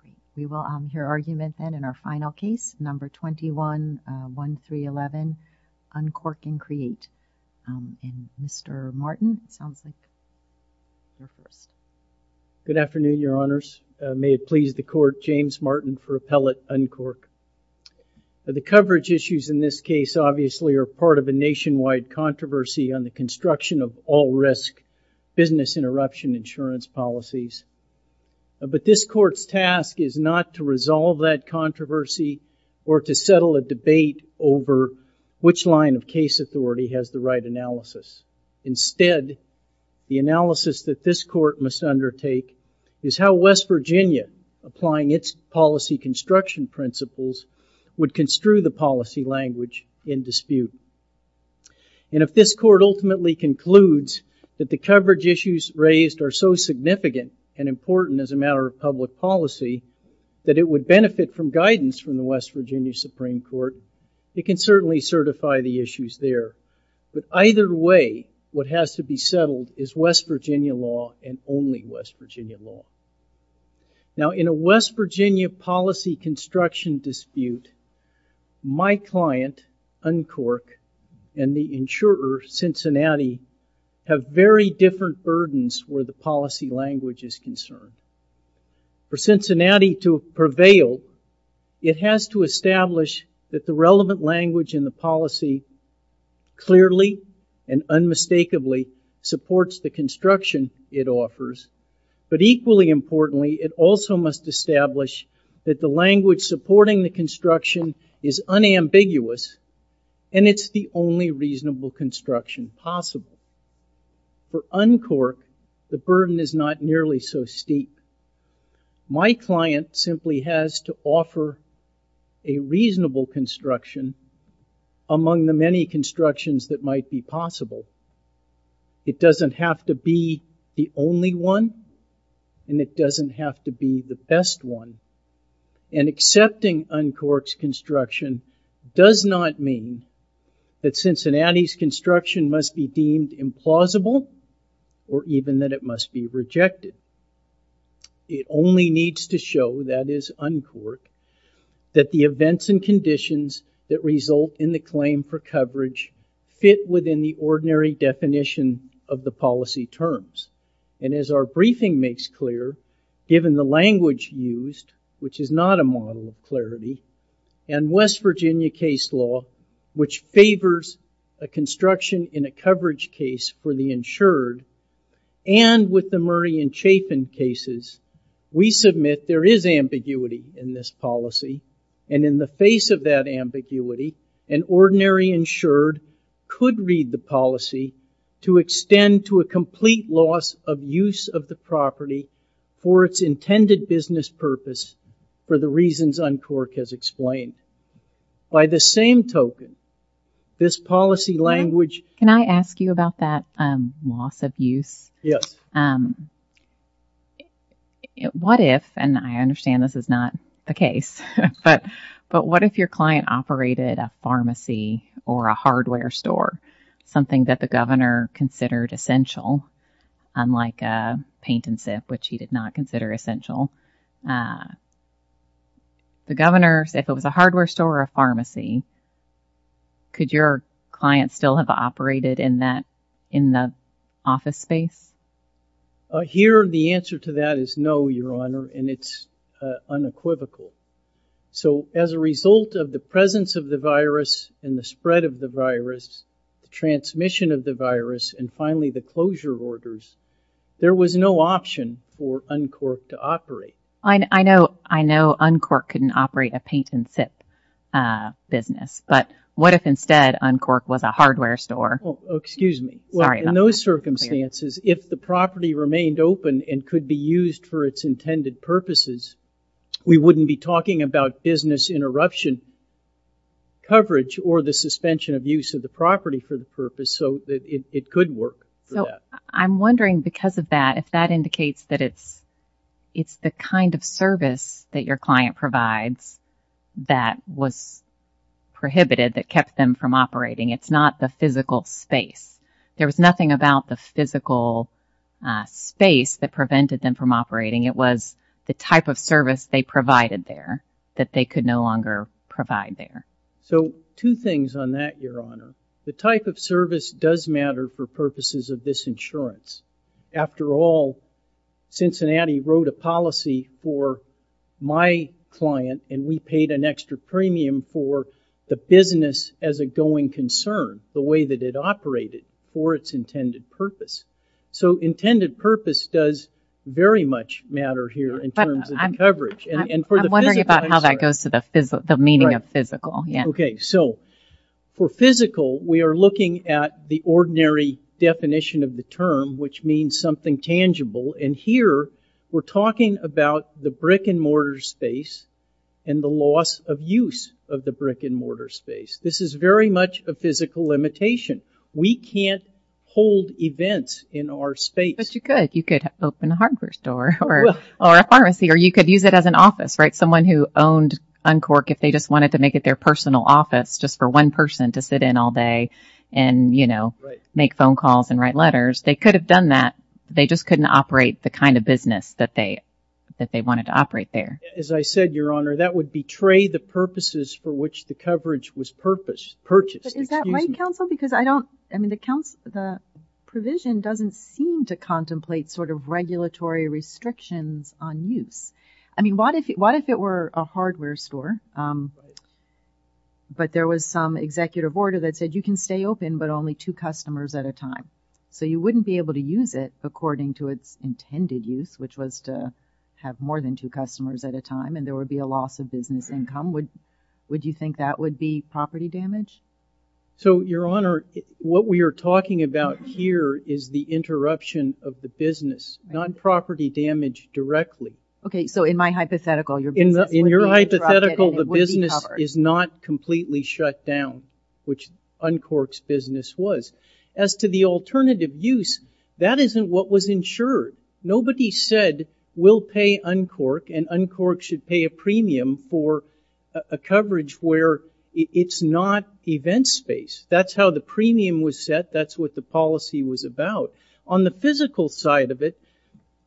Great. We will hear argument then in our final case, number 21-1311, Uncork and Create. And Mr. Martin, it sounds like you're first. Good afternoon, Your Honors. May it please the Court, James Martin for Appellate Uncork. The coverage issues in this case, obviously, are part of a nationwide controversy on the construction of all-risk business interruption insurance policies. But this Court's task is not to resolve that controversy or to settle a debate over which line of case authority has the right analysis. Instead, the analysis that this Court must undertake is how West Virginia, applying its policy construction principles, would construe the policy language in dispute. And if this Court ultimately concludes that the coverage issues raised are so significant and important as a matter of public policy, that it would benefit from guidance from the West Virginia Supreme Court, it can certainly certify the issues there. But either way, what has to be settled is West Virginia law and only West Virginia law. Now, in a West Virginia policy construction dispute, my client, Uncork, and the insurer, Cincinnati, have very different burdens where the policy language is concerned. For Cincinnati to prevail, it has to establish that the relevant language in the policy clearly and unmistakably supports the construction it offers, but equally importantly, it also must establish that the language supporting the construction is unambiguous and it's the only reasonable construction possible. For Uncork, the burden is not nearly so steep. My client simply has to offer a reasonable construction among the many constructions that might be possible. It doesn't have to be the only one, and it doesn't have to be the best one. And accepting Uncork's construction does not mean that Cincinnati's construction must be deemed implausible or even that it must be rejected. It only needs to show, that is Uncork, that the events and conditions that result in the claim for coverage fit within the ordinary definition of the policy terms. And as our briefing makes clear, given the language used, which is not a model of clarity, and West Virginia case law, which favors a construction in a coverage case for the insured, and with the Murray and Chapin cases, we submit there is ambiguity in this policy. And in the face of that ambiguity, an ordinary insured could read the policy to extend to a complete loss of use of the property for its intended business purpose for the reasons Uncork has explained. By the same token, this policy language... Can I ask you about that loss of use? Yes. What if, and I understand this is not the case, but what if your client operated a pharmacy or a hardware store, something that the governor considered essential, unlike a paint and sip, which he did not consider essential. The governor, if it was a hardware store or a pharmacy, could your client still have operated in the office space? Here, the answer to that is no, Your Honor, and it's unequivocal. So as a result of the presence of the virus and the spread of the virus, the transmission of the virus, and finally the closure orders, there was no option for Uncork to operate. I know Uncork couldn't operate a paint and sip business, but what if instead Uncork was a hardware store? Excuse me. Sorry about that. If the property remained open and could be used for its intended purposes, we wouldn't be talking about business interruption coverage or the suspension of use of the property for the purpose, so it could work for that. So I'm wondering, because of that, if that indicates that it's the kind of service that your client provides that was prohibited that kept them from operating. It's not the physical space. There was nothing about the physical space that prevented them from operating. It was the type of service they provided there that they could no longer provide there. So two things on that, Your Honor. The type of service does matter for purposes of this insurance. After all, Cincinnati wrote a policy for my client, and we paid an extra premium for the business as a going concern, the way that it operated, for its intended purpose. So intended purpose does very much matter here in terms of coverage. I'm wondering about how that goes to the meaning of physical. Okay. So for physical, we are looking at the ordinary definition of the term, which means something tangible, and here we're talking about the brick and mortar space and the loss of use of the brick and mortar space. This is very much a physical limitation. We can't hold events in our space. But you could. You could open a hardware store or a pharmacy, or you could use it as an office, right? Someone who owned Uncork, if they just wanted to make it their personal office just for one person to sit in all day and, you know, make phone calls and write letters, they could have done that. They just couldn't operate the kind of business that they wanted to operate there. As I said, Your Honor, that would betray the purposes for which the coverage was purchased. Is that right, counsel? Because I don't, I mean, the provision doesn't seem to contemplate sort of regulatory restrictions on use. I mean, what if it were a hardware store, but there was some executive order that said you can stay open, but only two customers at a time, so you wouldn't be able to use it according to its intended use, which was to have more than two customers at a time, and there would be a loss of business income. Would you think that would be property damage? So, Your Honor, what we are talking about here is the interruption of the business, not property damage directly. Okay, so in my hypothetical, your business would be interrupted and it would be covered. In your hypothetical, the business is not completely shut down, which Uncork's business was. As to the alternative use, that isn't what was insured. Nobody said we'll pay Uncork and Uncork should pay a premium for a coverage where it's not event space. That's how the premium was set. That's what the policy was about. On the physical side of it,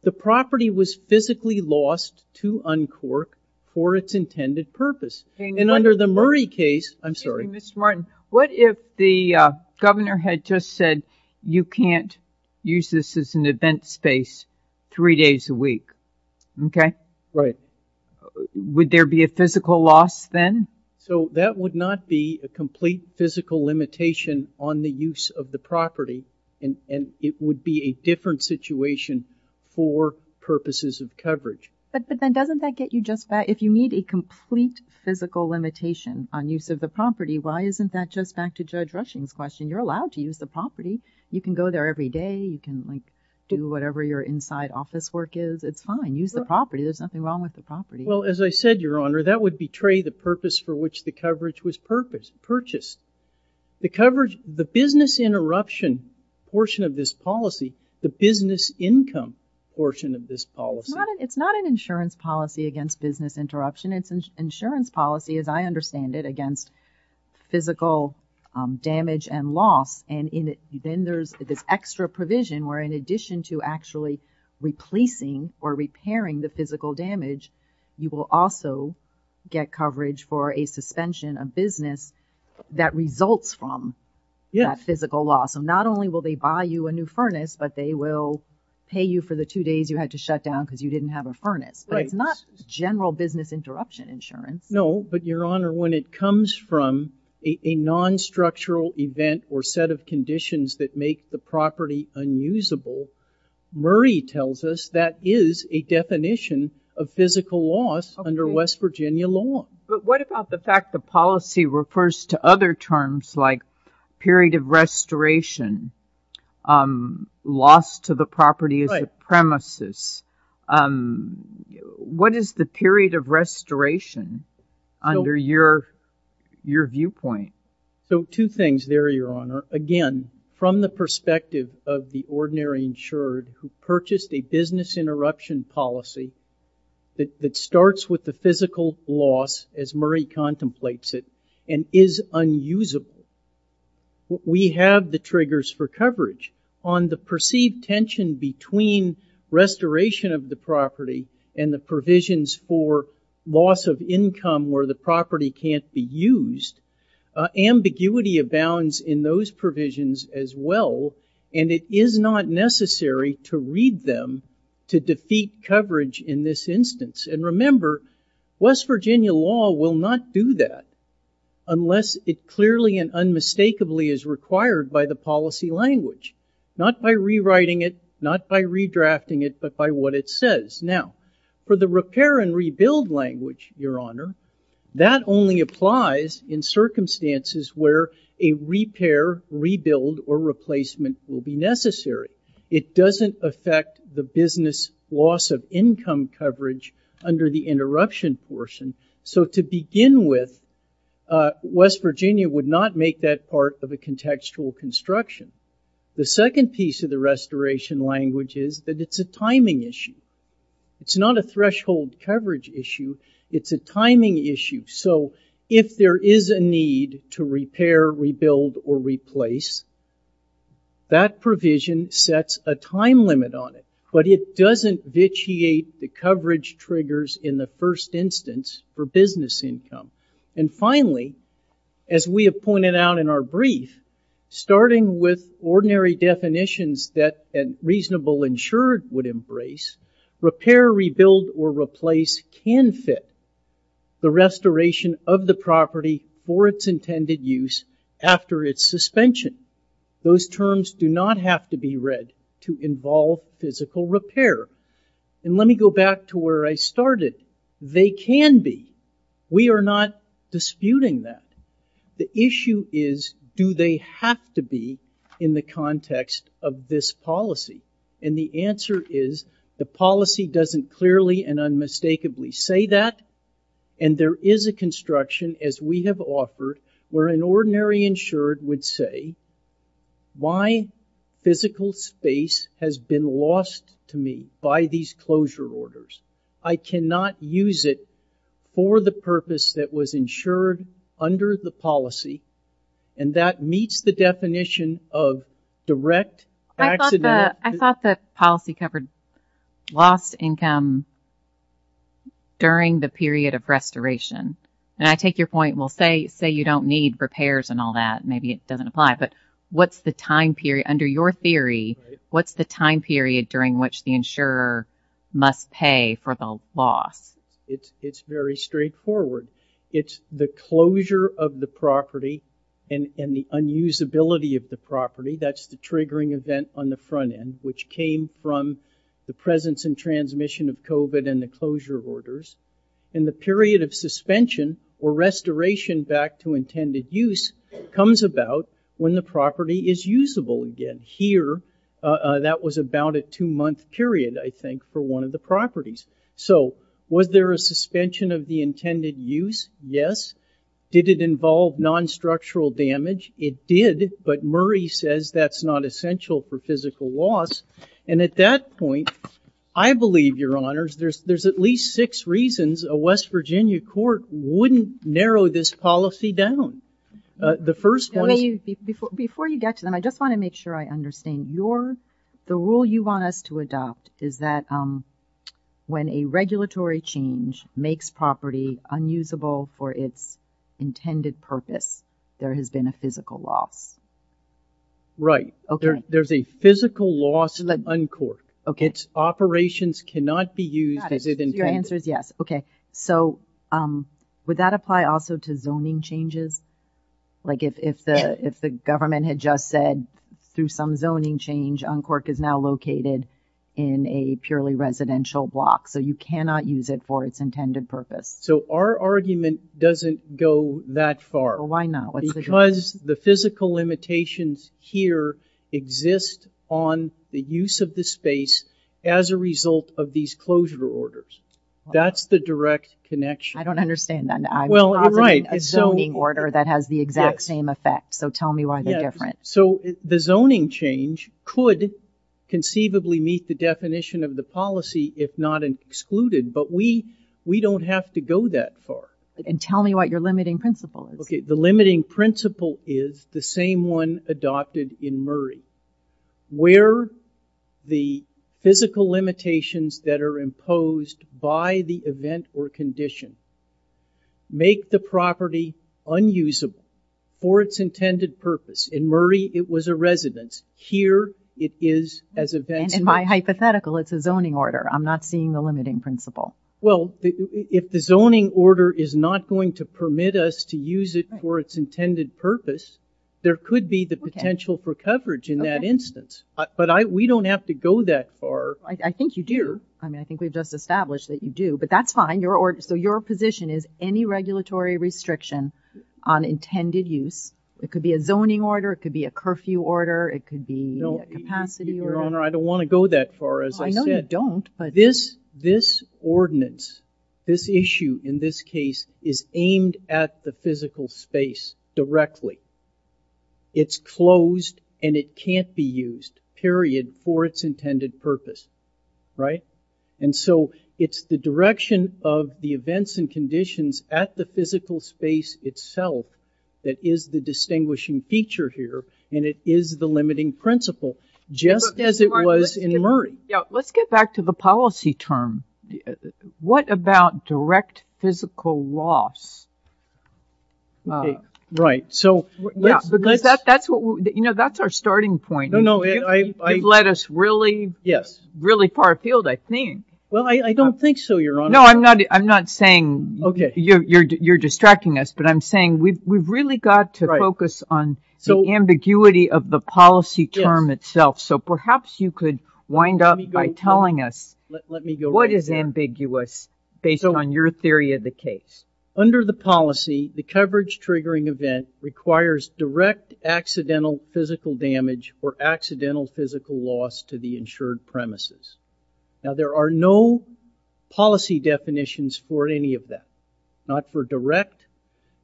the property was physically lost to Uncork for its intended purpose. And under the Murray case, I'm sorry. Mr. Martin, what if the governor had just said you can't use this as an event space three days a week? Okay. Right. Would there be a physical loss then? So that would not be a complete physical limitation on the use of the property, But then doesn't that get you just back, if you need a complete physical limitation on use of the property, why isn't that just back to Judge Rushing's question? You're allowed to use the property. You can go there every day. You can, like, do whatever your inside office work is. It's fine. Use the property. There's nothing wrong with the property. Well, as I said, Your Honor, that would betray the purpose for which the coverage was purchased. The business interruption portion of this policy, the business income portion of this policy, it's not an insurance policy against business interruption. It's an insurance policy, as I understand it, against physical damage and loss. And then there's this extra provision where, in addition to actually replacing or repairing the physical damage, you will also get coverage for a suspension of business that results from that physical loss. So not only will they buy you a new furnace, but they will pay you for the two days you had to shut down because you didn't have a furnace. But it's not general business interruption insurance. No, but, Your Honor, when it comes from a non-structural event or set of conditions that make the property unusable, Murray tells us that is a definition of physical loss under West Virginia law. But what about the fact the policy refers to other terms like period of restoration, loss to the property as a premises? What is the period of restoration under your viewpoint? So two things there, Your Honor. Again, from the perspective of the ordinary insured who purchased a business interruption policy that starts with the physical loss, as Murray contemplates it, and is unusable, we have the triggers for coverage. On the perceived tension between restoration of the property and the provisions for loss of income where the property can't be used, ambiguity abounds in those provisions as well. And it is not necessary to read them to defeat coverage in this instance. And remember, West Virginia law will not do that unless it clearly and unmistakably is required by the policy language, not by rewriting it, not by redrafting it, but by what it says. Now, for the repair and rebuild language, Your Honor, that only applies in circumstances where a repair, rebuild, or replacement will be necessary. It doesn't affect the business loss of income coverage under the interruption portion. So to begin with, West Virginia would not make that part of a contextual construction. The second piece of the restoration language is that it's a timing issue. It's not a threshold coverage issue. It's a timing issue. So if there is a need to repair, rebuild, or replace, that provision sets a time limit on it. But it doesn't vitiate the coverage triggers in the first instance for business income. And finally, as we have pointed out in our brief, starting with ordinary definitions that a reasonable insurer would embrace, repair, rebuild, or replace can fit the restoration of the property for its intended use after its suspension. Those terms do not have to be read to involve physical repair. And let me go back to where I started. They can be. We are not disputing that. The issue is, do they have to be in the context of this policy? And the answer is, the policy doesn't clearly and unmistakably say that. And there is a construction, as we have offered, where an ordinary insured would say, my physical space has been lost to me by these closure orders. I cannot use it for the purpose that was insured under the policy. And that meets the definition of direct accident. I thought the policy covered lost income during the period of restoration. And I take your point, well, say you don't need repairs and all that. Maybe it doesn't apply. But what's the time period, under your theory, what's the time period during which the insurer must pay for the loss? It's very straightforward. It's the closure of the property and the unusability of the property. That's the triggering event on the front end, which came from the presence and transmission of COVID and the closure orders. And the period of suspension or restoration back to intended use comes about when the property is usable again. Here, that was about a two-month period, I think, for one of the properties. So was there a suspension of the intended use? Yes. Did it involve non-structural damage? It did. But Murray says that's not essential for physical loss. And at that point, I believe, Your Honors, there's at least six reasons a West Virginia court wouldn't narrow this policy down. The first one is... Before you get to them, I just want to make sure I understand. The rule you want us to adopt is that when a regulatory change makes property unusable for its intended purpose, there has been a physical loss. Right. There's a physical loss uncourt. Its operations cannot be used as it intended. Your answer is yes. Okay. So would that apply also to zoning changes? If the government had just said, through some zoning change, uncourt is now located in a purely residential block, so you cannot use it for its intended purpose. So our argument doesn't go that far. Why not? Because the physical limitations here exist on the use of the space as a result of these closure orders. That's the direct connection. I don't understand that. I'm proposing a zoning order that has the exact same effect, so tell me why they're different. The zoning change could conceivably meet the definition of the policy if not excluded, but we don't have to go that far. Tell me what your limiting principle is. The limiting principle is the same one adopted in Murray. Where the physical limitations that are imposed by the event or condition make the property unusable for its intended purpose. In Murray, it was a residence. Here, it is as events. And in my hypothetical, it's a zoning order. I'm not seeing the limiting principle. Well, if the zoning order is not going to permit us to use it for its intended purpose, there could be the potential for coverage in that instance. But we don't have to go that far. I think you do. I mean, I think we've just established that you do. But that's fine. So your position is any regulatory restriction on intended use. It could be a zoning order. It could be a curfew order. It could be a capacity order. Your Honor, I don't want to go that far, as I said. I know you don't. This ordinance, this issue in this case, is aimed at the physical space directly. It's closed, and it can't be used, period, for its intended purpose, right? And so it's the direction of the events and conditions at the physical space itself that is the distinguishing feature here, and it is the limiting principle, just as it was in Murray. Yeah, let's get back to the policy term. What about direct physical loss? OK. Right. Because that's our starting point. No, no. You've led us really, really far afield, I think. Well, I don't think so, Your Honor. No, I'm not saying you're distracting us. But I'm saying we've really got to focus on the ambiguity of the policy term itself. So perhaps you could wind up by telling us. Let me go right there. What is ambiguous, based on your theory of the case? Under the policy, the coverage-triggering event requires direct accidental physical damage or accidental physical loss to the insured premises. Now, there are no policy definitions for any of that, not for direct,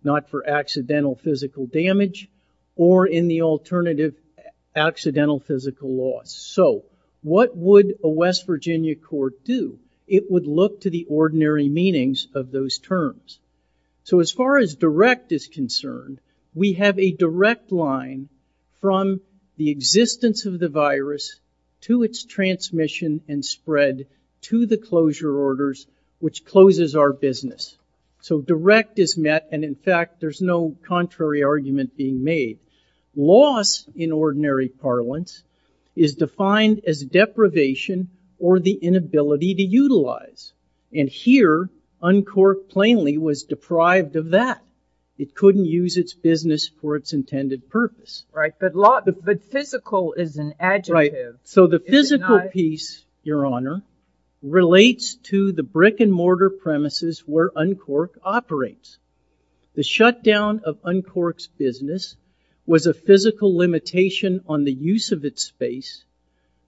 not for accidental physical damage, or in the alternative, accidental physical loss. So what would a West Virginia court do? It would look to the ordinary meanings of those terms. So as far as direct is concerned, we have a direct line from the existence of the virus to its transmission and spread to the closure orders, which closes our business. So direct is met. And in fact, there's no contrary argument being made. Loss, in ordinary parlance, is defined as deprivation or the inability to utilize. And here, Uncork plainly was deprived of that. It couldn't use its business for its intended purpose. Right. But physical is an adjective. Right. So the physical piece, Your Honor, relates to the brick-and-mortar premises where Uncork operates. The shutdown of Uncork's business was a physical limitation on the use of its space.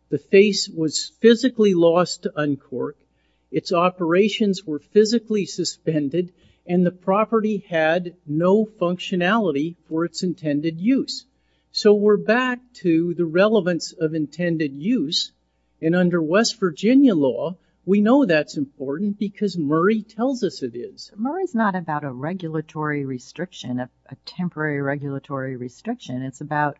The face was physically lost to Uncork. Its operations were physically suspended. And the property had no functionality for its intended use. So we're back to the relevance of intended use. And under West Virginia law, we know that's important because Murray tells us it is. Murray's not about a regulatory restriction, a temporary regulatory restriction. It's about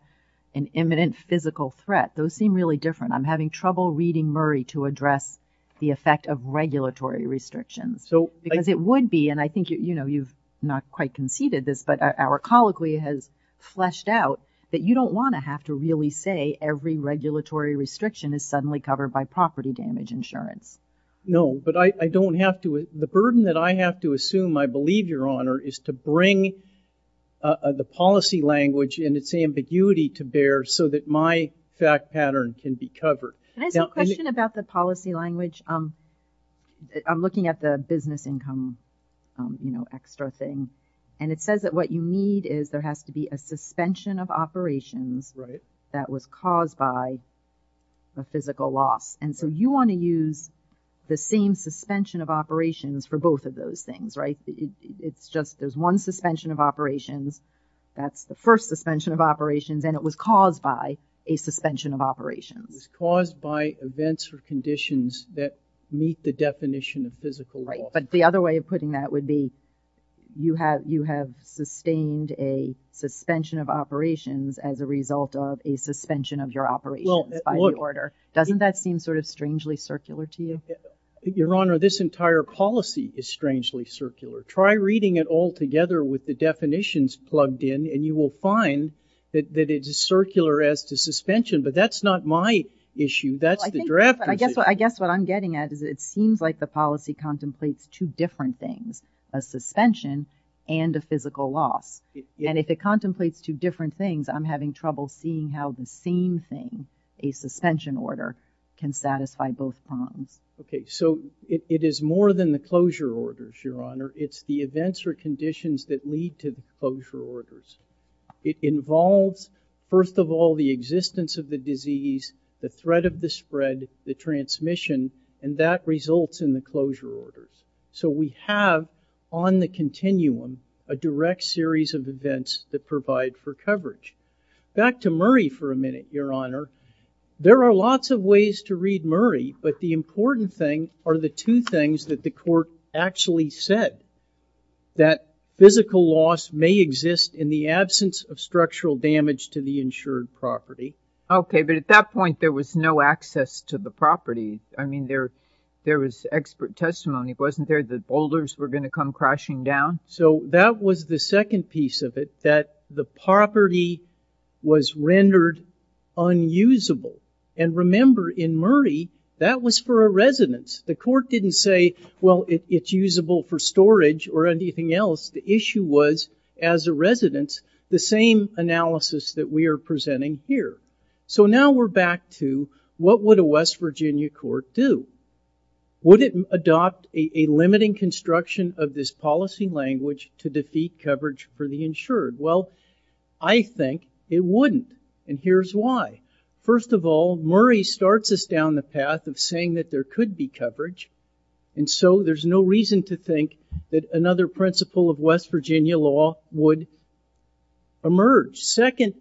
an imminent physical threat. Those seem really different. I'm having trouble reading Murray to address the effect of regulatory restrictions. Because it would be, and I think you've not quite conceded this, but our colloquy has fleshed out, that you don't want to have to really say every regulatory restriction is suddenly covered by property damage insurance. No, but I don't have to. The burden that I have to assume, I believe, Your Honor, is to bring the policy language and its ambiguity to bear so that my fact pattern can be covered. Can I ask a question about the policy language? I'm looking at the business income, you know, extra thing. And it says that what you need is there has to be a suspension of operations that was caused by the physical loss. And so you want to use the same suspension of operations for both of those things, right? It's just there's one suspension of operations, that's the first suspension of operations, and it was caused by a suspension of operations. It was caused by events or conditions that meet the definition of physical loss. Right, but the other way of putting that would be you have sustained a suspension of operations as a result of a suspension of your operations by the order. Doesn't that seem sort of strangely circular to you? Your Honor, this entire policy is strangely circular. Try reading it all together with the definitions plugged in, and you will find that it is circular as to suspension. But that's not my issue, that's the drafter's issue. I guess what I'm getting at is it seems like the policy contemplates two different things, a suspension and a physical loss. And if it contemplates two different things, I'm having trouble seeing how the same thing, a suspension order, can satisfy both prongs. Okay, so it is more than the closure orders, Your Honor. It's the events or conditions that lead to the closure orders. It involves, first of all, the existence of the disease, the threat of the spread, the transmission, and that results in the closure orders. So we have, on the continuum, a direct series of events that provide for coverage. Back to Murray for a minute, Your Honor. There are lots of ways to read Murray, but the important thing are the two things that the court actually said, that physical loss may exist in the absence of structural damage to the insured property. Okay, but at that point there was no access to the property. I mean, there was expert testimony. Wasn't there that boulders were going to come crashing down? So that was the second piece of it, that the property was rendered unusable. And remember, in Murray, that was for a residence. The court didn't say, well, it's usable for storage or anything else. The issue was, as a residence, the same analysis that we are presenting here. So now we're back to what would a West Virginia court do? Would it adopt a limiting construction of this policy language to defeat coverage for the insured? Well, I think it wouldn't, and here's why. First of all, Murray starts us down the path of saying that there could be coverage, and so there's no reason to think that another principle of West Virginia law would emerge. Second,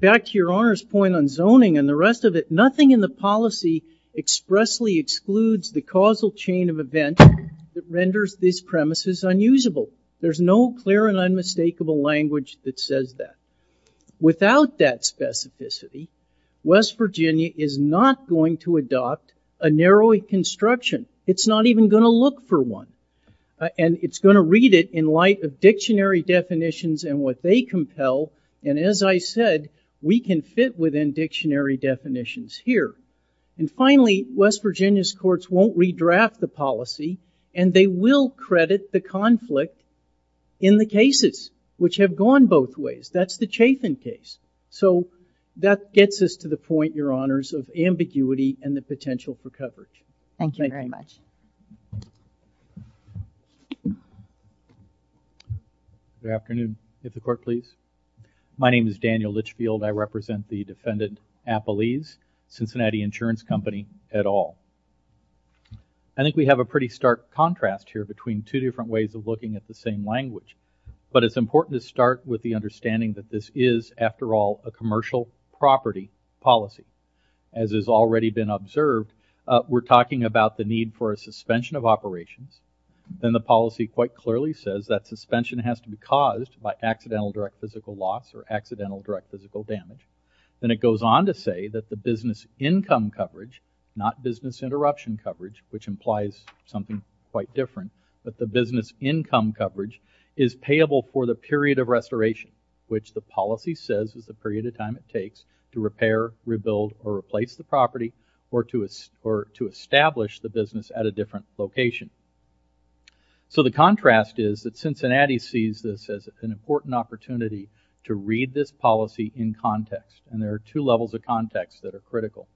back to Your Honor's point on zoning and the rest of it, nothing in the policy expressly excludes the causal chain of event that renders this premises unusable. There's no clear and unmistakable language that says that. Without that specificity, West Virginia is not going to adopt a narrow construction. It's not even going to look for one, and it's going to read it in light of dictionary definitions and what they compel, and as I said, we can fit within dictionary definitions here. And finally, West Virginia's courts won't redraft the policy, and they will credit the conflict in the cases, which have gone both ways. That's the Chatham case. So that gets us to the point, Your Honors, of ambiguity and the potential for coverage. Thank you very much. Good afternoon. If the court please. My name is Daniel Litchfield. I represent the defendant, Appalese, Cincinnati Insurance Company, et al. I think we have a pretty stark contrast here between two different ways of looking at the same language, but it's important to start with the understanding that this is, after all, a commercial property policy. As has already been observed, we're talking about the need for a suspension of operations, and the policy quite clearly says that suspension has to be caused by accidental direct physical loss or accidental direct physical damage. Then it goes on to say that the business income coverage, not business interruption coverage, which implies something quite different, that the business income coverage is payable for the period of restoration, which the policy says is the period of time it takes to repair, rebuild, or replace the property or to establish the business at a different location. So the contrast is that Cincinnati sees this as an important opportunity to read this policy in context, and there are two levels of context that are critical.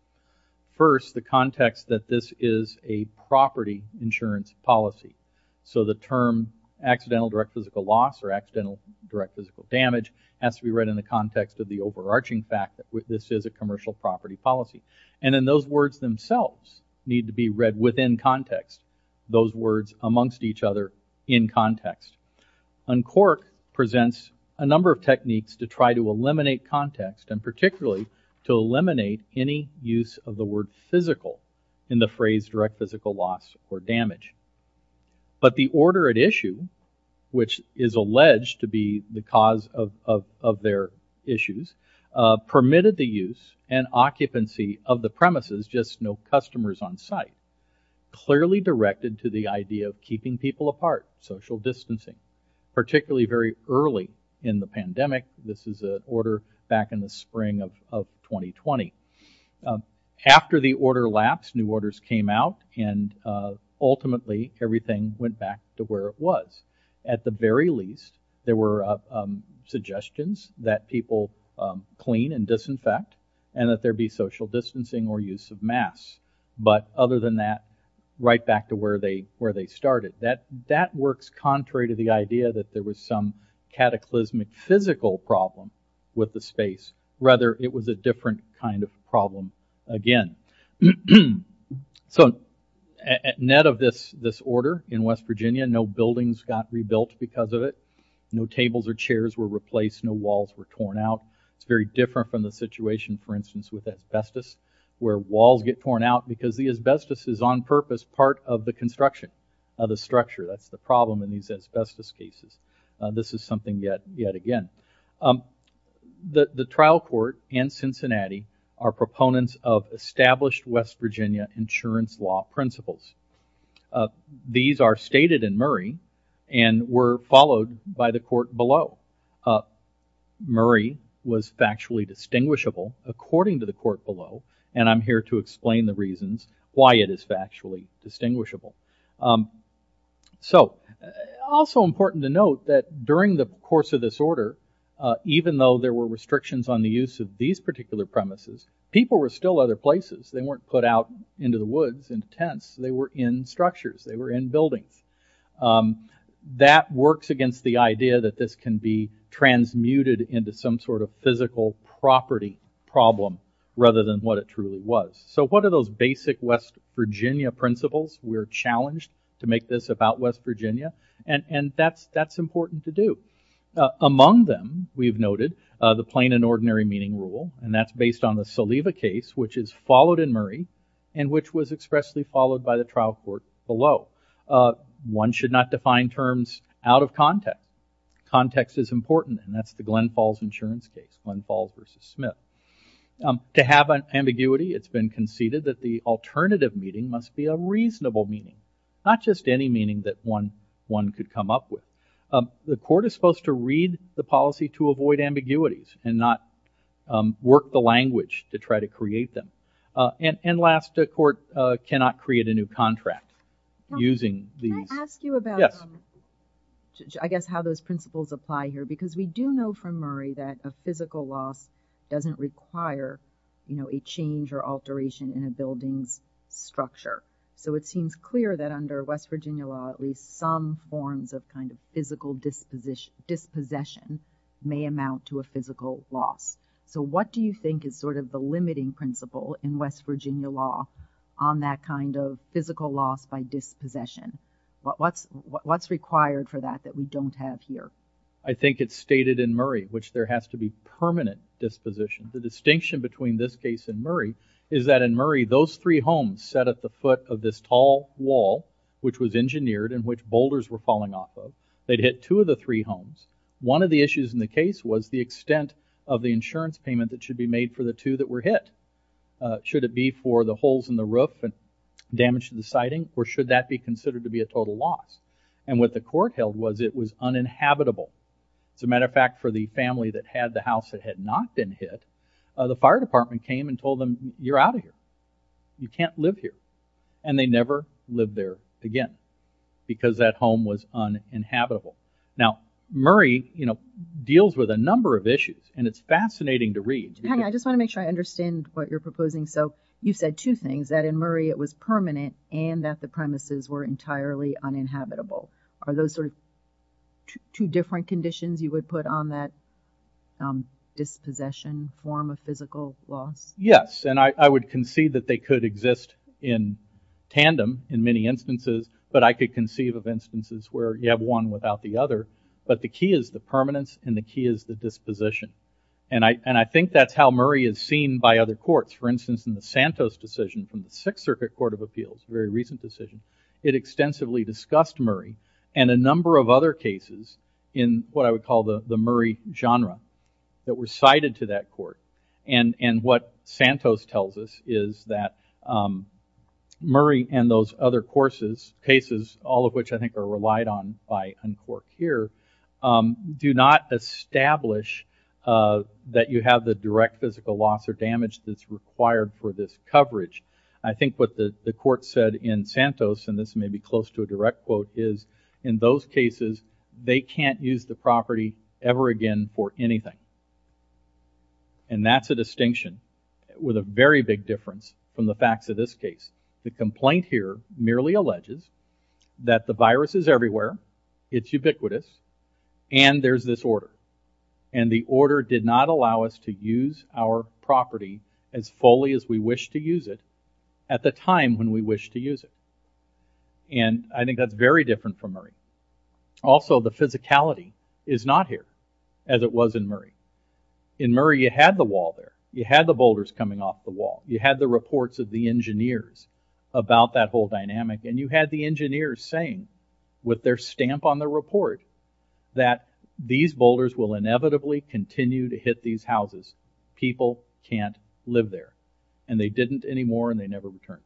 First, the context that this is a property insurance policy. So the term accidental direct physical loss or accidental direct physical damage has to be read in the context of the overarching fact that this is a commercial property policy. And then those words themselves need to be read within context, those words amongst each other in context. UNCORC presents a number of techniques to try to eliminate context and particularly to eliminate any use of the word physical in the phrase direct physical loss or damage. But the order at issue, which is alleged to be the cause of their issues, permitted the use and occupancy of the premises, just no customers on site, clearly directed to the idea of keeping people apart, social distancing, particularly very early in the pandemic. This is an order back in the spring of 2020. After the order lapsed, new orders came out, and ultimately everything went back to where it was. At the very least, there were suggestions that people clean and disinfect and that there be social distancing or use of masks. But other than that, right back to where they started. That works contrary to the idea that there was some cataclysmic physical problem with the space. Rather, it was a different kind of problem again. So net of this order in West Virginia, no buildings got rebuilt because of it, no tables or chairs were replaced, no walls were torn out. It's very different from the situation, for instance, with asbestos, where walls get torn out because the asbestos is on purpose as part of the construction of the structure. That's the problem in these asbestos cases. This is something yet again. The trial court and Cincinnati are proponents of established West Virginia insurance law principles. These are stated in Murray and were followed by the court below. Murray was factually distinguishable, according to the court below, and I'm here to explain the reasons why it is factually distinguishable. Also important to note that during the course of this order, even though there were restrictions on the use of these particular premises, people were still other places. They weren't put out into the woods in tents. They were in structures. They were in buildings. That works against the idea that this can be transmuted into some sort of physical property problem rather than what it truly was. So what are those basic West Virginia principles? We're challenged to make this about West Virginia, and that's important to do. Among them, we've noted the plain and ordinary meaning rule, and that's based on the Saliva case, which is followed in Murray and which was expressly followed by the trial court below. One should not define terms out of context. Context is important, and that's the Glen Falls insurance case, Glen Falls v. Smith. To have an ambiguity, it's been conceded that the alternative meaning must be a reasonable meaning, not just any meaning that one could come up with. The court is supposed to read the policy to avoid ambiguities and not work the language to try to create them. And last, a court cannot create a new contract using these... I guess how those principles apply here, because we do know from Murray that a physical loss doesn't require a change or alteration in a building's structure. So it seems clear that under West Virginia law at least some forms of kind of physical dispossession may amount to a physical loss. So what do you think is sort of the limiting principle in West Virginia law on that kind of physical loss by dispossession? What's required for that that we don't have here? I think it's stated in Murray, which there has to be permanent disposition. The distinction between this case and Murray is that in Murray those 3 homes set at the foot of this tall wall which was engineered and which boulders were falling off of, they'd hit 2 of the 3 homes. One of the issues in the case was the extent of the insurance payment that should be made for the 2 that were hit. Should it be for the holes in the roof and damage to the siding, or should that be considered to be a total loss? And what the court held was it was uninhabitable. As a matter of fact, for the family that had the house that had not been hit, the fire department came and told them you're out of here. You can't live here. And they never lived there again because that home was uninhabitable. Now, Murray deals with a number of issues and it's fascinating to read. I just want to make sure I understand what you're proposing. You said 2 things, that in Murray it was permanent and that the premises were entirely uninhabitable. Are those 2 different conditions you would put on that dispossession form of physical loss? Yes, and I would concede that they could exist in tandem in many instances, but I could conceive of instances where you have one without the other. But the key is the permanence and the key is the disposition. And I think that's how Murray is seen by other courts. For instance, in the Santos decision from the 6th Circuit Court of Appeals, a very recent decision, it extensively discussed Murray and a number of other cases in what I would call the Murray genre that were cited to that court. And what Santos tells us is that Murray and those other cases, all of which I think are relied on by Uncork here, do not establish that you have the direct physical loss or damage that's required for this coverage. I think what the court said in Santos, and this may be close to a direct quote, is in those cases they can't use the property ever again for anything. And that's a distinction with a very big difference from the facts of this case. The complaint here merely alleges that the virus is everywhere, it's ubiquitous, and there's this order. And the order did not allow us to use our property as fully as we wished to use it at the time when we wished to use it. And I think that's very different from Murray. Also, the physicality is not here as it was in Murray. In Murray, you had the wall there. You had the boulders coming off the wall. You had the reports of the engineers about that whole dynamic. And you had the engineers saying, with their stamp on their report, that these boulders will inevitably continue to hit these houses. People can't live there. And they didn't anymore, and they never returned.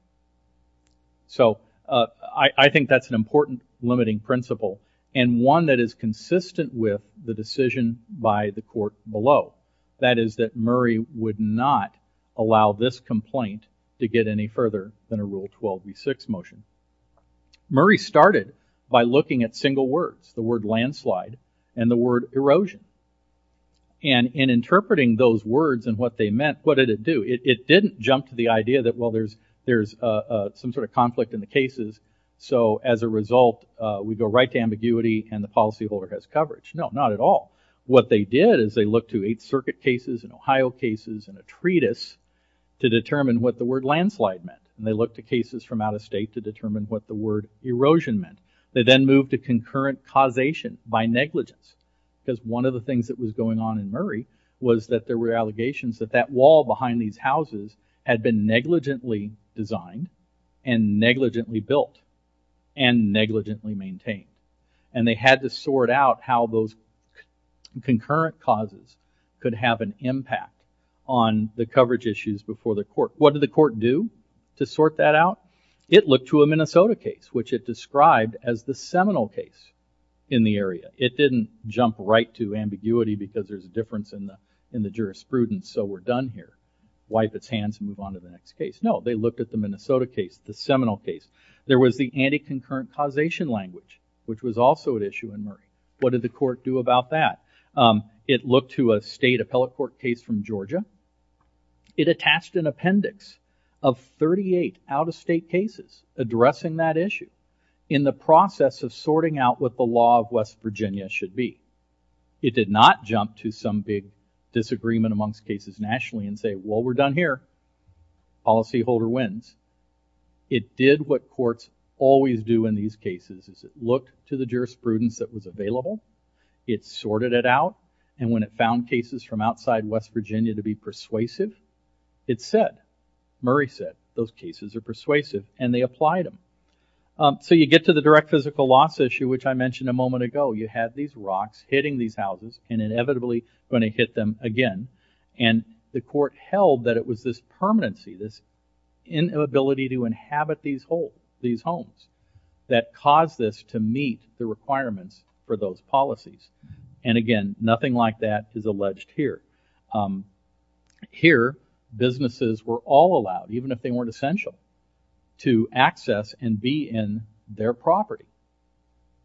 So I think that's an important limiting principle, and one that is consistent with the decision by the court below. That is that Murray would not allow this complaint to get any further than a Rule 12b-6 motion. Murray started by looking at single words, the word landslide and the word erosion. And in interpreting those words and what they meant, what did it do? It didn't jump to the idea that, well, there's some sort of conflict in the cases, so as a result, we go right to ambiguity and the policyholder has coverage. No, not at all. What they did is they looked to 8th Circuit cases and Ohio cases and a treatise to determine what the word landslide meant. And they looked to cases from out of state to determine what the word erosion meant. They then moved to concurrent causation by negligence because one of the things that was going on in Murray was that there were allegations that that wall behind these houses had been negligently designed and negligently built and negligently maintained. And they had to sort out how those concurrent causes could have an impact on the coverage issues before the court. What did the court do to sort that out? It looked to a Minnesota case, which it described as the seminal case in the area. It didn't jump right to ambiguity because there's a difference in the jurisprudence, so we're done here. Wipe its hands and move on to the next case. No, they looked at the Minnesota case, the seminal case. There was the anti-concurrent causation language, which was also an issue in Murray. What did the court do about that? It looked to a state appellate court case from Georgia. It attached an appendix of 38 out-of-state cases addressing that issue in the process of sorting out what the law of West Virginia should be. It did not jump to some big disagreement amongst cases nationally and say, well, we're done here. Policyholder wins. It did what courts always do in these cases. It looked to the jurisprudence that was available. It sorted it out, and when it found cases from outside West Virginia to be persuasive, it said, Murray said, those cases are persuasive, and they applied them. So you get to the direct physical loss issue, which I mentioned a moment ago. You had these rocks hitting these houses and inevitably going to hit them again, and the court held that it was this permanency, this inability to inhabit these homes that caused this to meet the requirements for those policies, and again, nothing like that is alleged here. Here, businesses were all allowed, even if they weren't essential, to access and be in their property.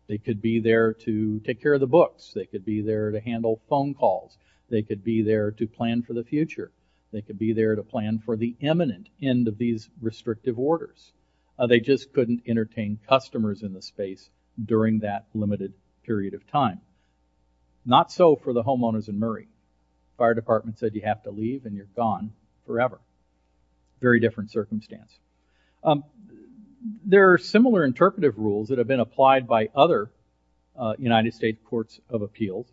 They could be there to take care of the books. They could be there to handle phone calls. They could be there to plan for the future. They could be there to plan for the imminent end of these restrictive orders. They just couldn't entertain customers in the space during that limited period of time. Not so for the homeowners in Murray. Fire department said, you have to leave, and you're gone forever. Very different circumstance. There are similar interpretive rules that have been applied by other United States courts of appeals.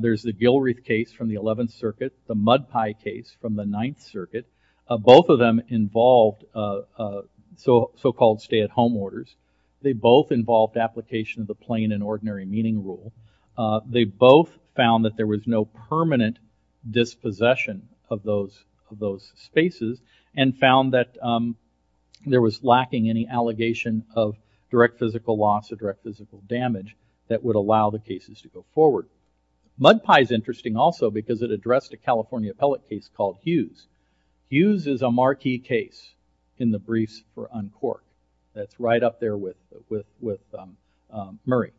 There's the Gilreath case from the 11th Circuit, the Mud Pie case from the 9th Circuit. Both of them involved so-called stay-at-home orders. They both involved application of the plain and ordinary meeting rule. They both found that there was no permanent dispossession of those spaces and found that there was lacking any allegation of direct physical loss or direct physical damage that would allow the cases to go forward. Mud Pie is interesting also because it addressed a California appellate case called Hughes. Hughes is a marquee case in the briefs for uncourt. That's right up there with Murray.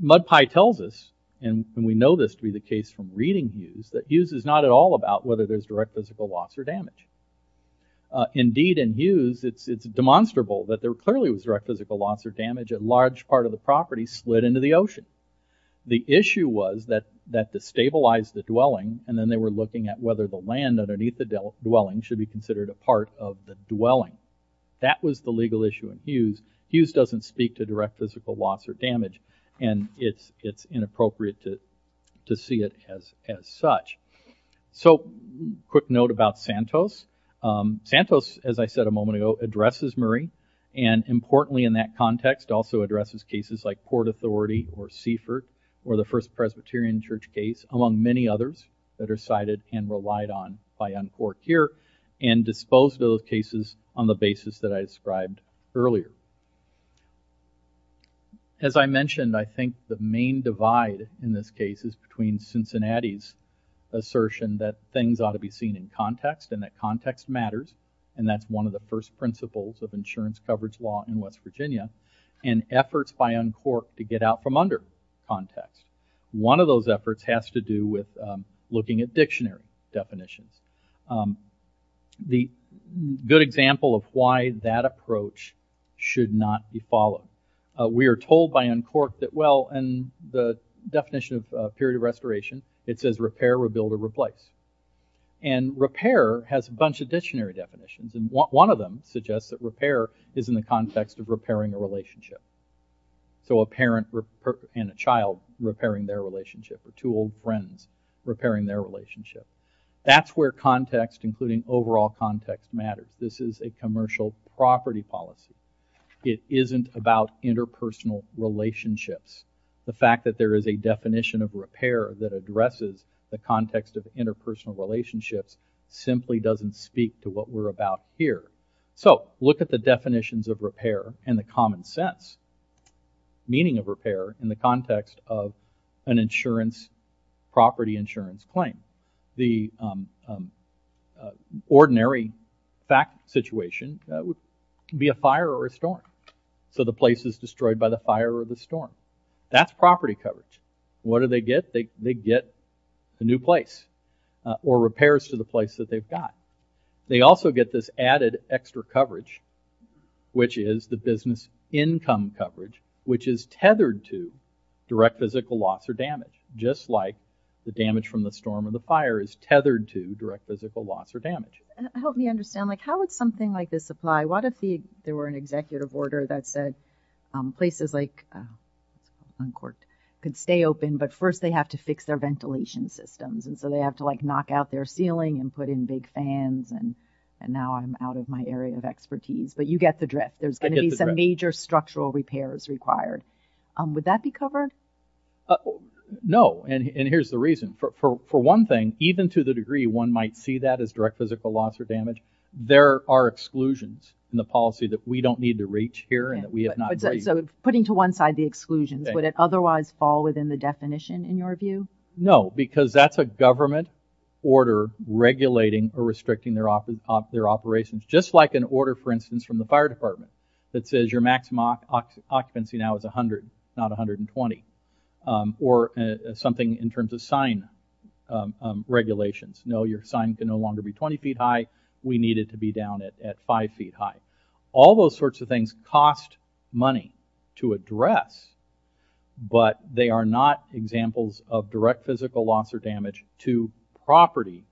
Mud Pie tells us, and we know this to be the case from reading Hughes, that Hughes is not at all about whether there's direct physical loss or damage. Indeed, in Hughes it's demonstrable that there clearly was direct physical loss or damage. A large part of the property slid into the ocean. The issue was that they stabilized the dwelling, and then they were looking at whether the land underneath the dwelling should be considered a part of the dwelling. That was the legal issue in Hughes. Hughes doesn't speak to direct physical loss or damage, and it's inappropriate to see it as such. So, quick note about Santos. Santos, as I said a moment ago, addresses Murray, and importantly in that context also addresses cases like Port Authority or Seaford or the First Presbyterian Church case, among many others that are cited and relied on by uncourt here, and disposed of those cases on the basis that I described earlier. As I mentioned, I think the main divide in this case is between Cincinnati's assertion that things ought to be seen in context and that context matters, and that's one of the first principles of insurance coverage law in West Virginia, and efforts by uncourt to get out from under context. One of those efforts has to do with looking at dictionary definitions. The good example of why that approach should not be followed. We are told by uncourt that, well, in the definition of period of restoration, it says repair, rebuild, or replace, and repair has a bunch of dictionary definitions, and one of them suggests that repair is in the context of repairing a relationship. So, a parent and a child repairing their relationship, or two old friends repairing their relationship. That's where context, including overall context, matters. This is a commercial property policy. It isn't about interpersonal relationships. The fact that there is a definition of repair that addresses the context of interpersonal relationships simply doesn't speak to what we're about here. So, look at the definitions of repair and the common sense meaning of repair in the context of an insurance, property insurance claim. The ordinary fact situation would be a fire or a storm. So, the place is destroyed by the fire or the storm. That's property coverage. What do they get? They get a new place, or repairs to the place that they've got. They also get this added extra coverage, which is the business income coverage, which is tethered to direct physical loss or damage, just like the damage from the storm or the fire is tethered to direct physical loss or damage. Help me understand. How would something like this apply? What if there were an executive order that said places like Uncorked could stay open, but first they have to fix their ventilation systems, and so they have to knock out their ceiling and put in big fans, and now I'm out of my area of expertise, but you get the drift. There's going to be some major structural repairs required. Would that be covered? No, and here's the reason. For one thing, even to the degree one might see that as direct physical loss or damage, there are exclusions in the policy that we don't need to reach here and that we have not reached. Putting to one side the exclusions, would it otherwise fall within the definition in your view? No, because that's a government order regulating or restricting their operations, just like an order, for instance, from the fire department that says your maximum occupancy now is 100, not 120, or something in terms of sign regulations. No, your sign can no longer be 20 feet high. We need it to be down at 5 feet high. All those sorts of things cost money to address, but they are not examples of direct physical loss or damage to property.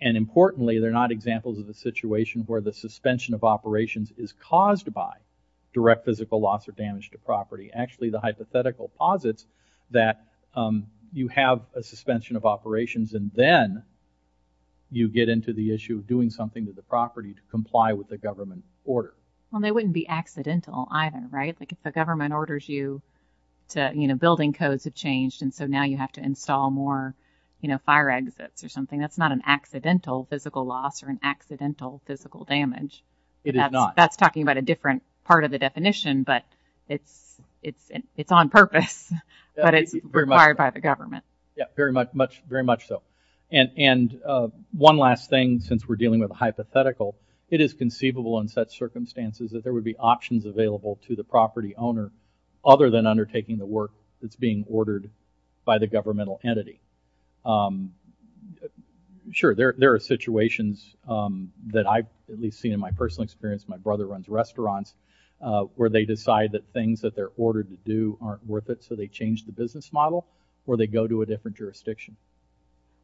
And importantly, they're not examples of a situation where the suspension of operations is caused by direct physical loss or damage to property. Actually, the hypothetical posits that you have a suspension of operations and then you get into the issue of doing something with the property to comply with the government order. Well, they wouldn't be accidental either, right? The government orders you to, you know, building codes have changed and so now you have to install more fire exits or something. That's not an accidental physical loss or an accidental physical damage. It is not. That's talking about a different part of the definition, but it's on purpose, but it's required by the government. Yeah, very much so. And one last thing, since we're dealing with a hypothetical, it is conceivable in such a case that the property owner, other than undertaking the work that's being ordered by the governmental entity. Sure, there are situations that I've at least seen in my personal experience. My brother runs restaurants where they decide that things that they're ordered to do aren't worth it, so they change the business model or they go to a different jurisdiction.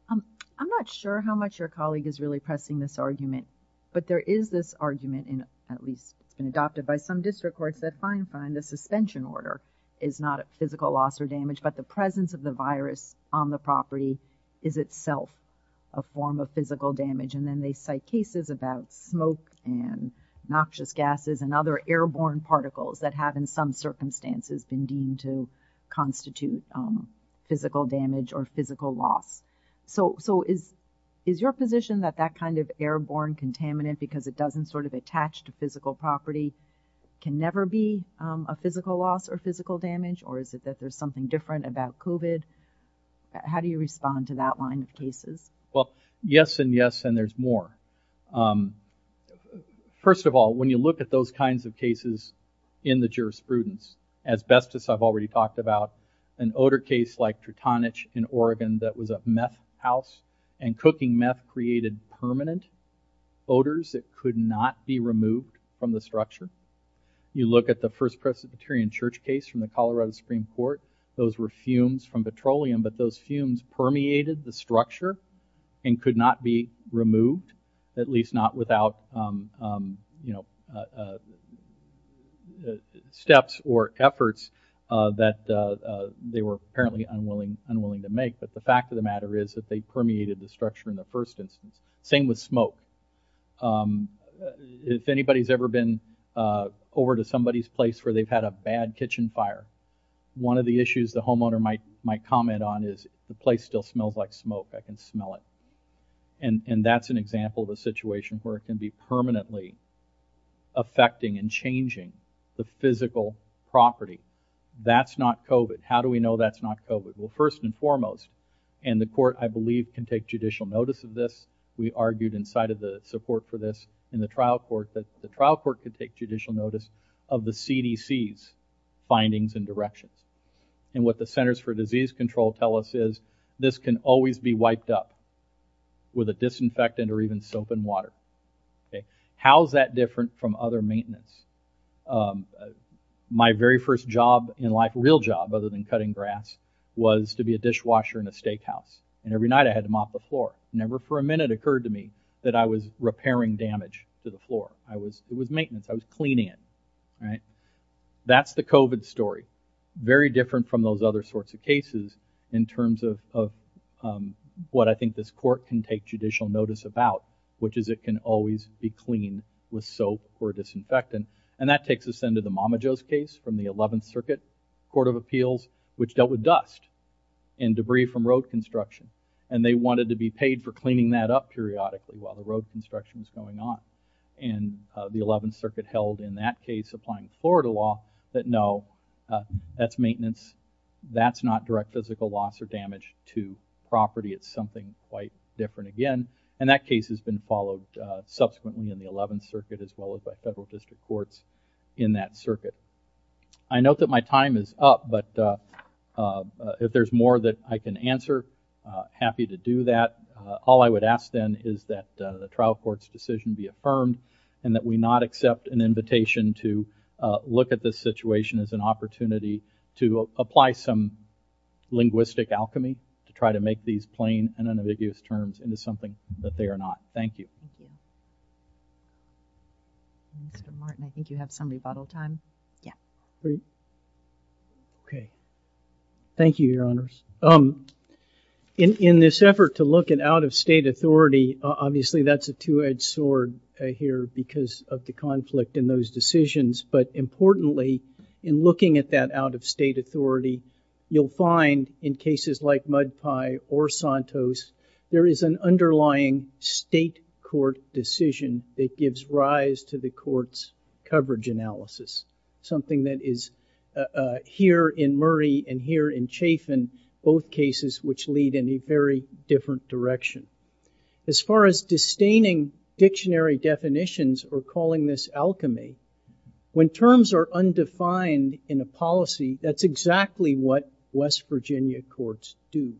I'm not sure how much your colleague is really pressing this argument, but there is this argument and at least it's been adopted by some district courts that fine, fine, the suspension order is not a physical loss or damage, but the presence of the virus on the property is itself a form of physical damage and then they cite cases about smoke and noxious gases and other airborne particles that have in some circumstances been deemed to constitute physical damage or physical loss. So is your position that that kind of airborne contaminant, because it doesn't sort of attach to physical property, can never be a physical loss or physical damage or is it that there's something different about COVID? How do you respond to that line of cases? Well, yes and yes and there's more. First of all, when you look at those kinds of cases in the jurisprudence, asbestos I've already talked about, an odor case like Tritonich in Oregon that was a house and cooking meth created permanent odors that could not be removed from the structure. You look at the First Presbyterian Church case from the Colorado Supreme Court, those were fumes from petroleum, but those fumes permeated the structure and could not be removed, at least not without steps or efforts that they were apparently unwilling to make, but the fact of the matter is that they permeated the structure in the first instance. Same with smoke. If anybody's ever been over to somebody's place where they've had a bad kitchen fire, one of the issues the homeowner might comment on is, the place still smells like smoke, I can smell it. And that's an example of a situation where it can be permanently affecting and changing the physical property. That's not COVID. How do we know that's not COVID? Well, first and foremost, and the court, I believe, can take judicial notice of this. We argued inside of the support for this in the trial court that the trial court could take judicial notice of the CDC's findings and directions. And what the Centers for Disease Control tell us is, this can always be wiped up with a disinfectant or even soap and water. How is that different from other maintenance? My very first job in life, real job other than cutting grass, was to be a dishwasher in a steakhouse. And every night I had to mop the floor. Never for a minute occurred to me that I was repairing damage to the floor. It was maintenance. I was cleaning it. That's the COVID story. Very different from those other sorts of cases in terms of what I think this court can take judicial notice about, which is it can always be cleaned with soap or disinfectant. And that takes us into the Mamajos case from the 11th Circuit Court of Appeals, which dealt with dust and debris from road construction. And they wanted to be paid for cleaning that up periodically while the road construction was going on. And the 11th Circuit held in that case, applying Florida law, that no, that's maintenance. That's not direct physical loss or damage to property. It's something quite different again. And that case has been followed subsequently in the 11th Circuit as well as by federal district courts in that circuit. I note that my time is up, but if there's more that I can answer, happy to do that. All I would ask then is that the trial court's decision be affirmed and that we not accept an invitation to look at this situation as an opportunity to apply some of these plain and unambiguous terms into something that they are not. Thank you. Thanks. But Martin, I think you have some rebuttal time. Yeah. Great. Okay. Thank you, Your Honors. In this effort to look at out-of-state authority, obviously that's a two-edged sword here because of the conflict in those decisions. But importantly, in looking at that out-of-state authority, you'll find in cases like Mud Pie or Santos, there is an underlying state court decision that gives rise to the court's coverage analysis, something that is here in Murray and here in Chafin, both cases which lead in a very different direction. As far as disdaining dictionary definitions or calling this alchemy, when terms are what West Virginia courts do.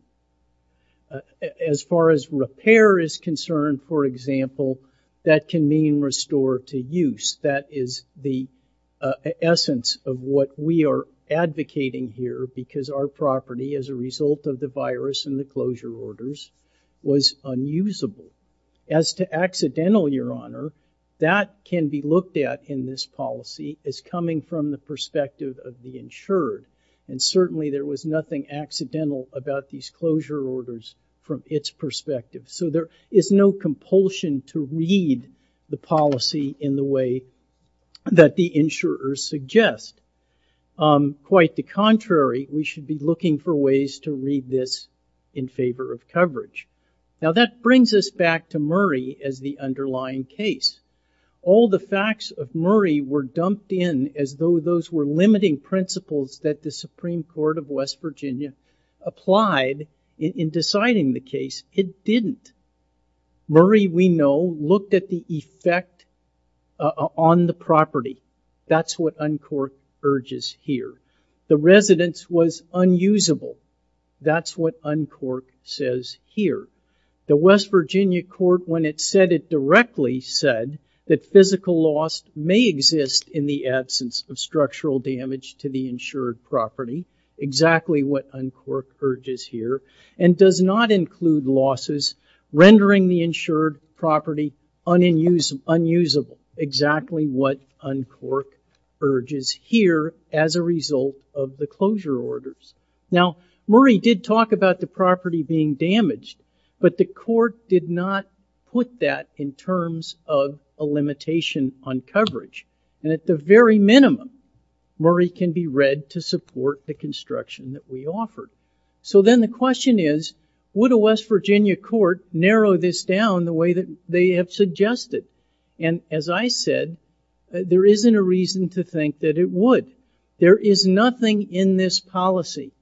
As far as repair is concerned, for example, that can mean restore to use. That is the essence of what we are advocating here because our property, as a result of the virus and the closure orders, was unusable. As to accidental, Your Honor, that can be looked at in this policy as coming from the perspective of the insured. And certainly there was nothing accidental about these closure orders from its perspective. So there is no compulsion to read the policy in the way that the insurers suggest. Quite the contrary, we should be looking for ways to read this in favor of coverage. Now that brings us back to Murray as the underlying case. All the facts of Murray were dumped in as though those were limiting principles that the Supreme Court of West Virginia applied in deciding the case. It didn't. Murray, we know, looked at the effect on the property. That's what Uncork urges here. The residence was unusable. That's what Uncork says here. The West Virginia Court, when it said it directly, said that physical loss may exist in the absence of structural damage to the insured property, exactly what Uncork urges here, and does not include losses rendering the insured property unusable, exactly what Uncork urges here as a result of the closure orders. Now, Murray did talk about the property being damaged, but the court did not put that in terms of a limitation on coverage. And at the very minimum, Murray can be read to support the construction that we offered. So then the question is, would a West Virginia court narrow this down the way that they have suggested? And as I said, there isn't a reason to think that it would. There is nothing in this policy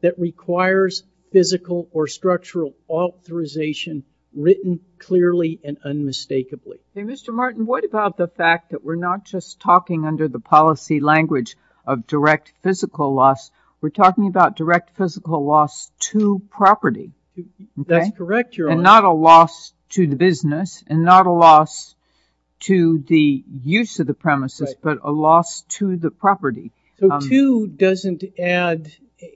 that requires physical or structural authorization written clearly and unmistakably. Hey, Mr. Martin, what about the fact that we're not just talking under the policy language of direct physical loss? We're talking about direct physical loss to property. That's correct. And not a loss to the business, and not a loss to the use of the premises, but a loss to the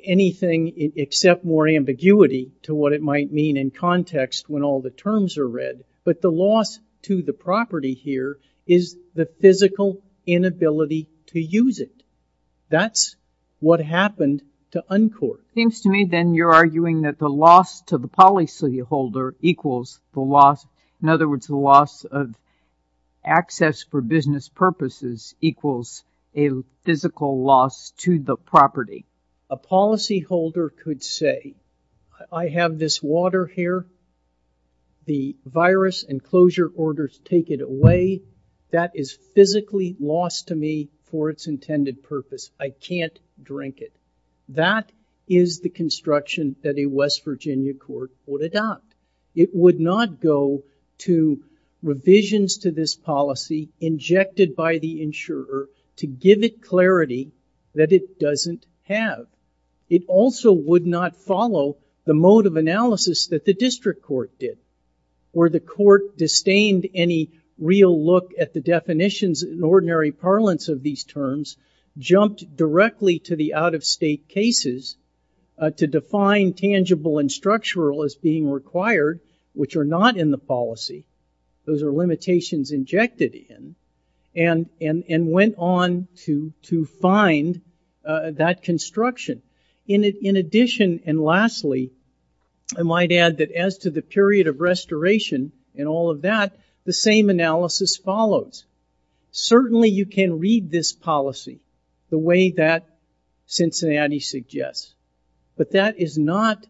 anything except more ambiguity to what it might mean in context when all the terms are read. But the loss to the property here is the physical inability to use it. That's what happened to Uncork. Seems to me, then, you're arguing that the loss to the policyholder equals the loss, in other words, the loss of access for business purposes equals a physical loss to the property. A policyholder could say, I have this water here. The virus enclosure orders take it away. That is physically lost to me for its intended purpose. I can't drink it. That is the construction that a West Virginia court would adopt. It would not go to revisions to this policy injected by the insurer to give it clarity that it doesn't have. It also would not follow the mode of analysis that the district court did, where the court disdained any real look at the definitions in ordinary parlance of these terms, jumped directly to the out-of-state cases to define tangible and structural as being required, which are not in the policy. Those are limitations injected in and went on to find that construction. In addition, and lastly, I might add that as to the period of restoration and all of that, the same analysis follows. Certainly, you can read this policy the way that Cincinnati suggests, but that does not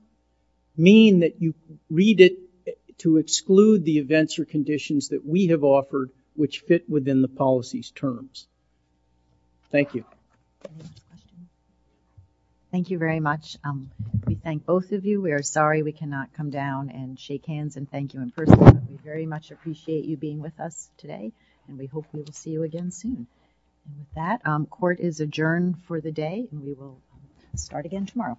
mean that you read it to exclude the events or conditions that we have offered which fit within the policy's terms. Thank you. Thank you very much. We thank both of you. We are sorry we cannot come down and shake hands and thank you in person. We very much appreciate you being with us today and we hope we will see you again soon. With that, court is adjourned for the day and we will start again tomorrow. Thank you.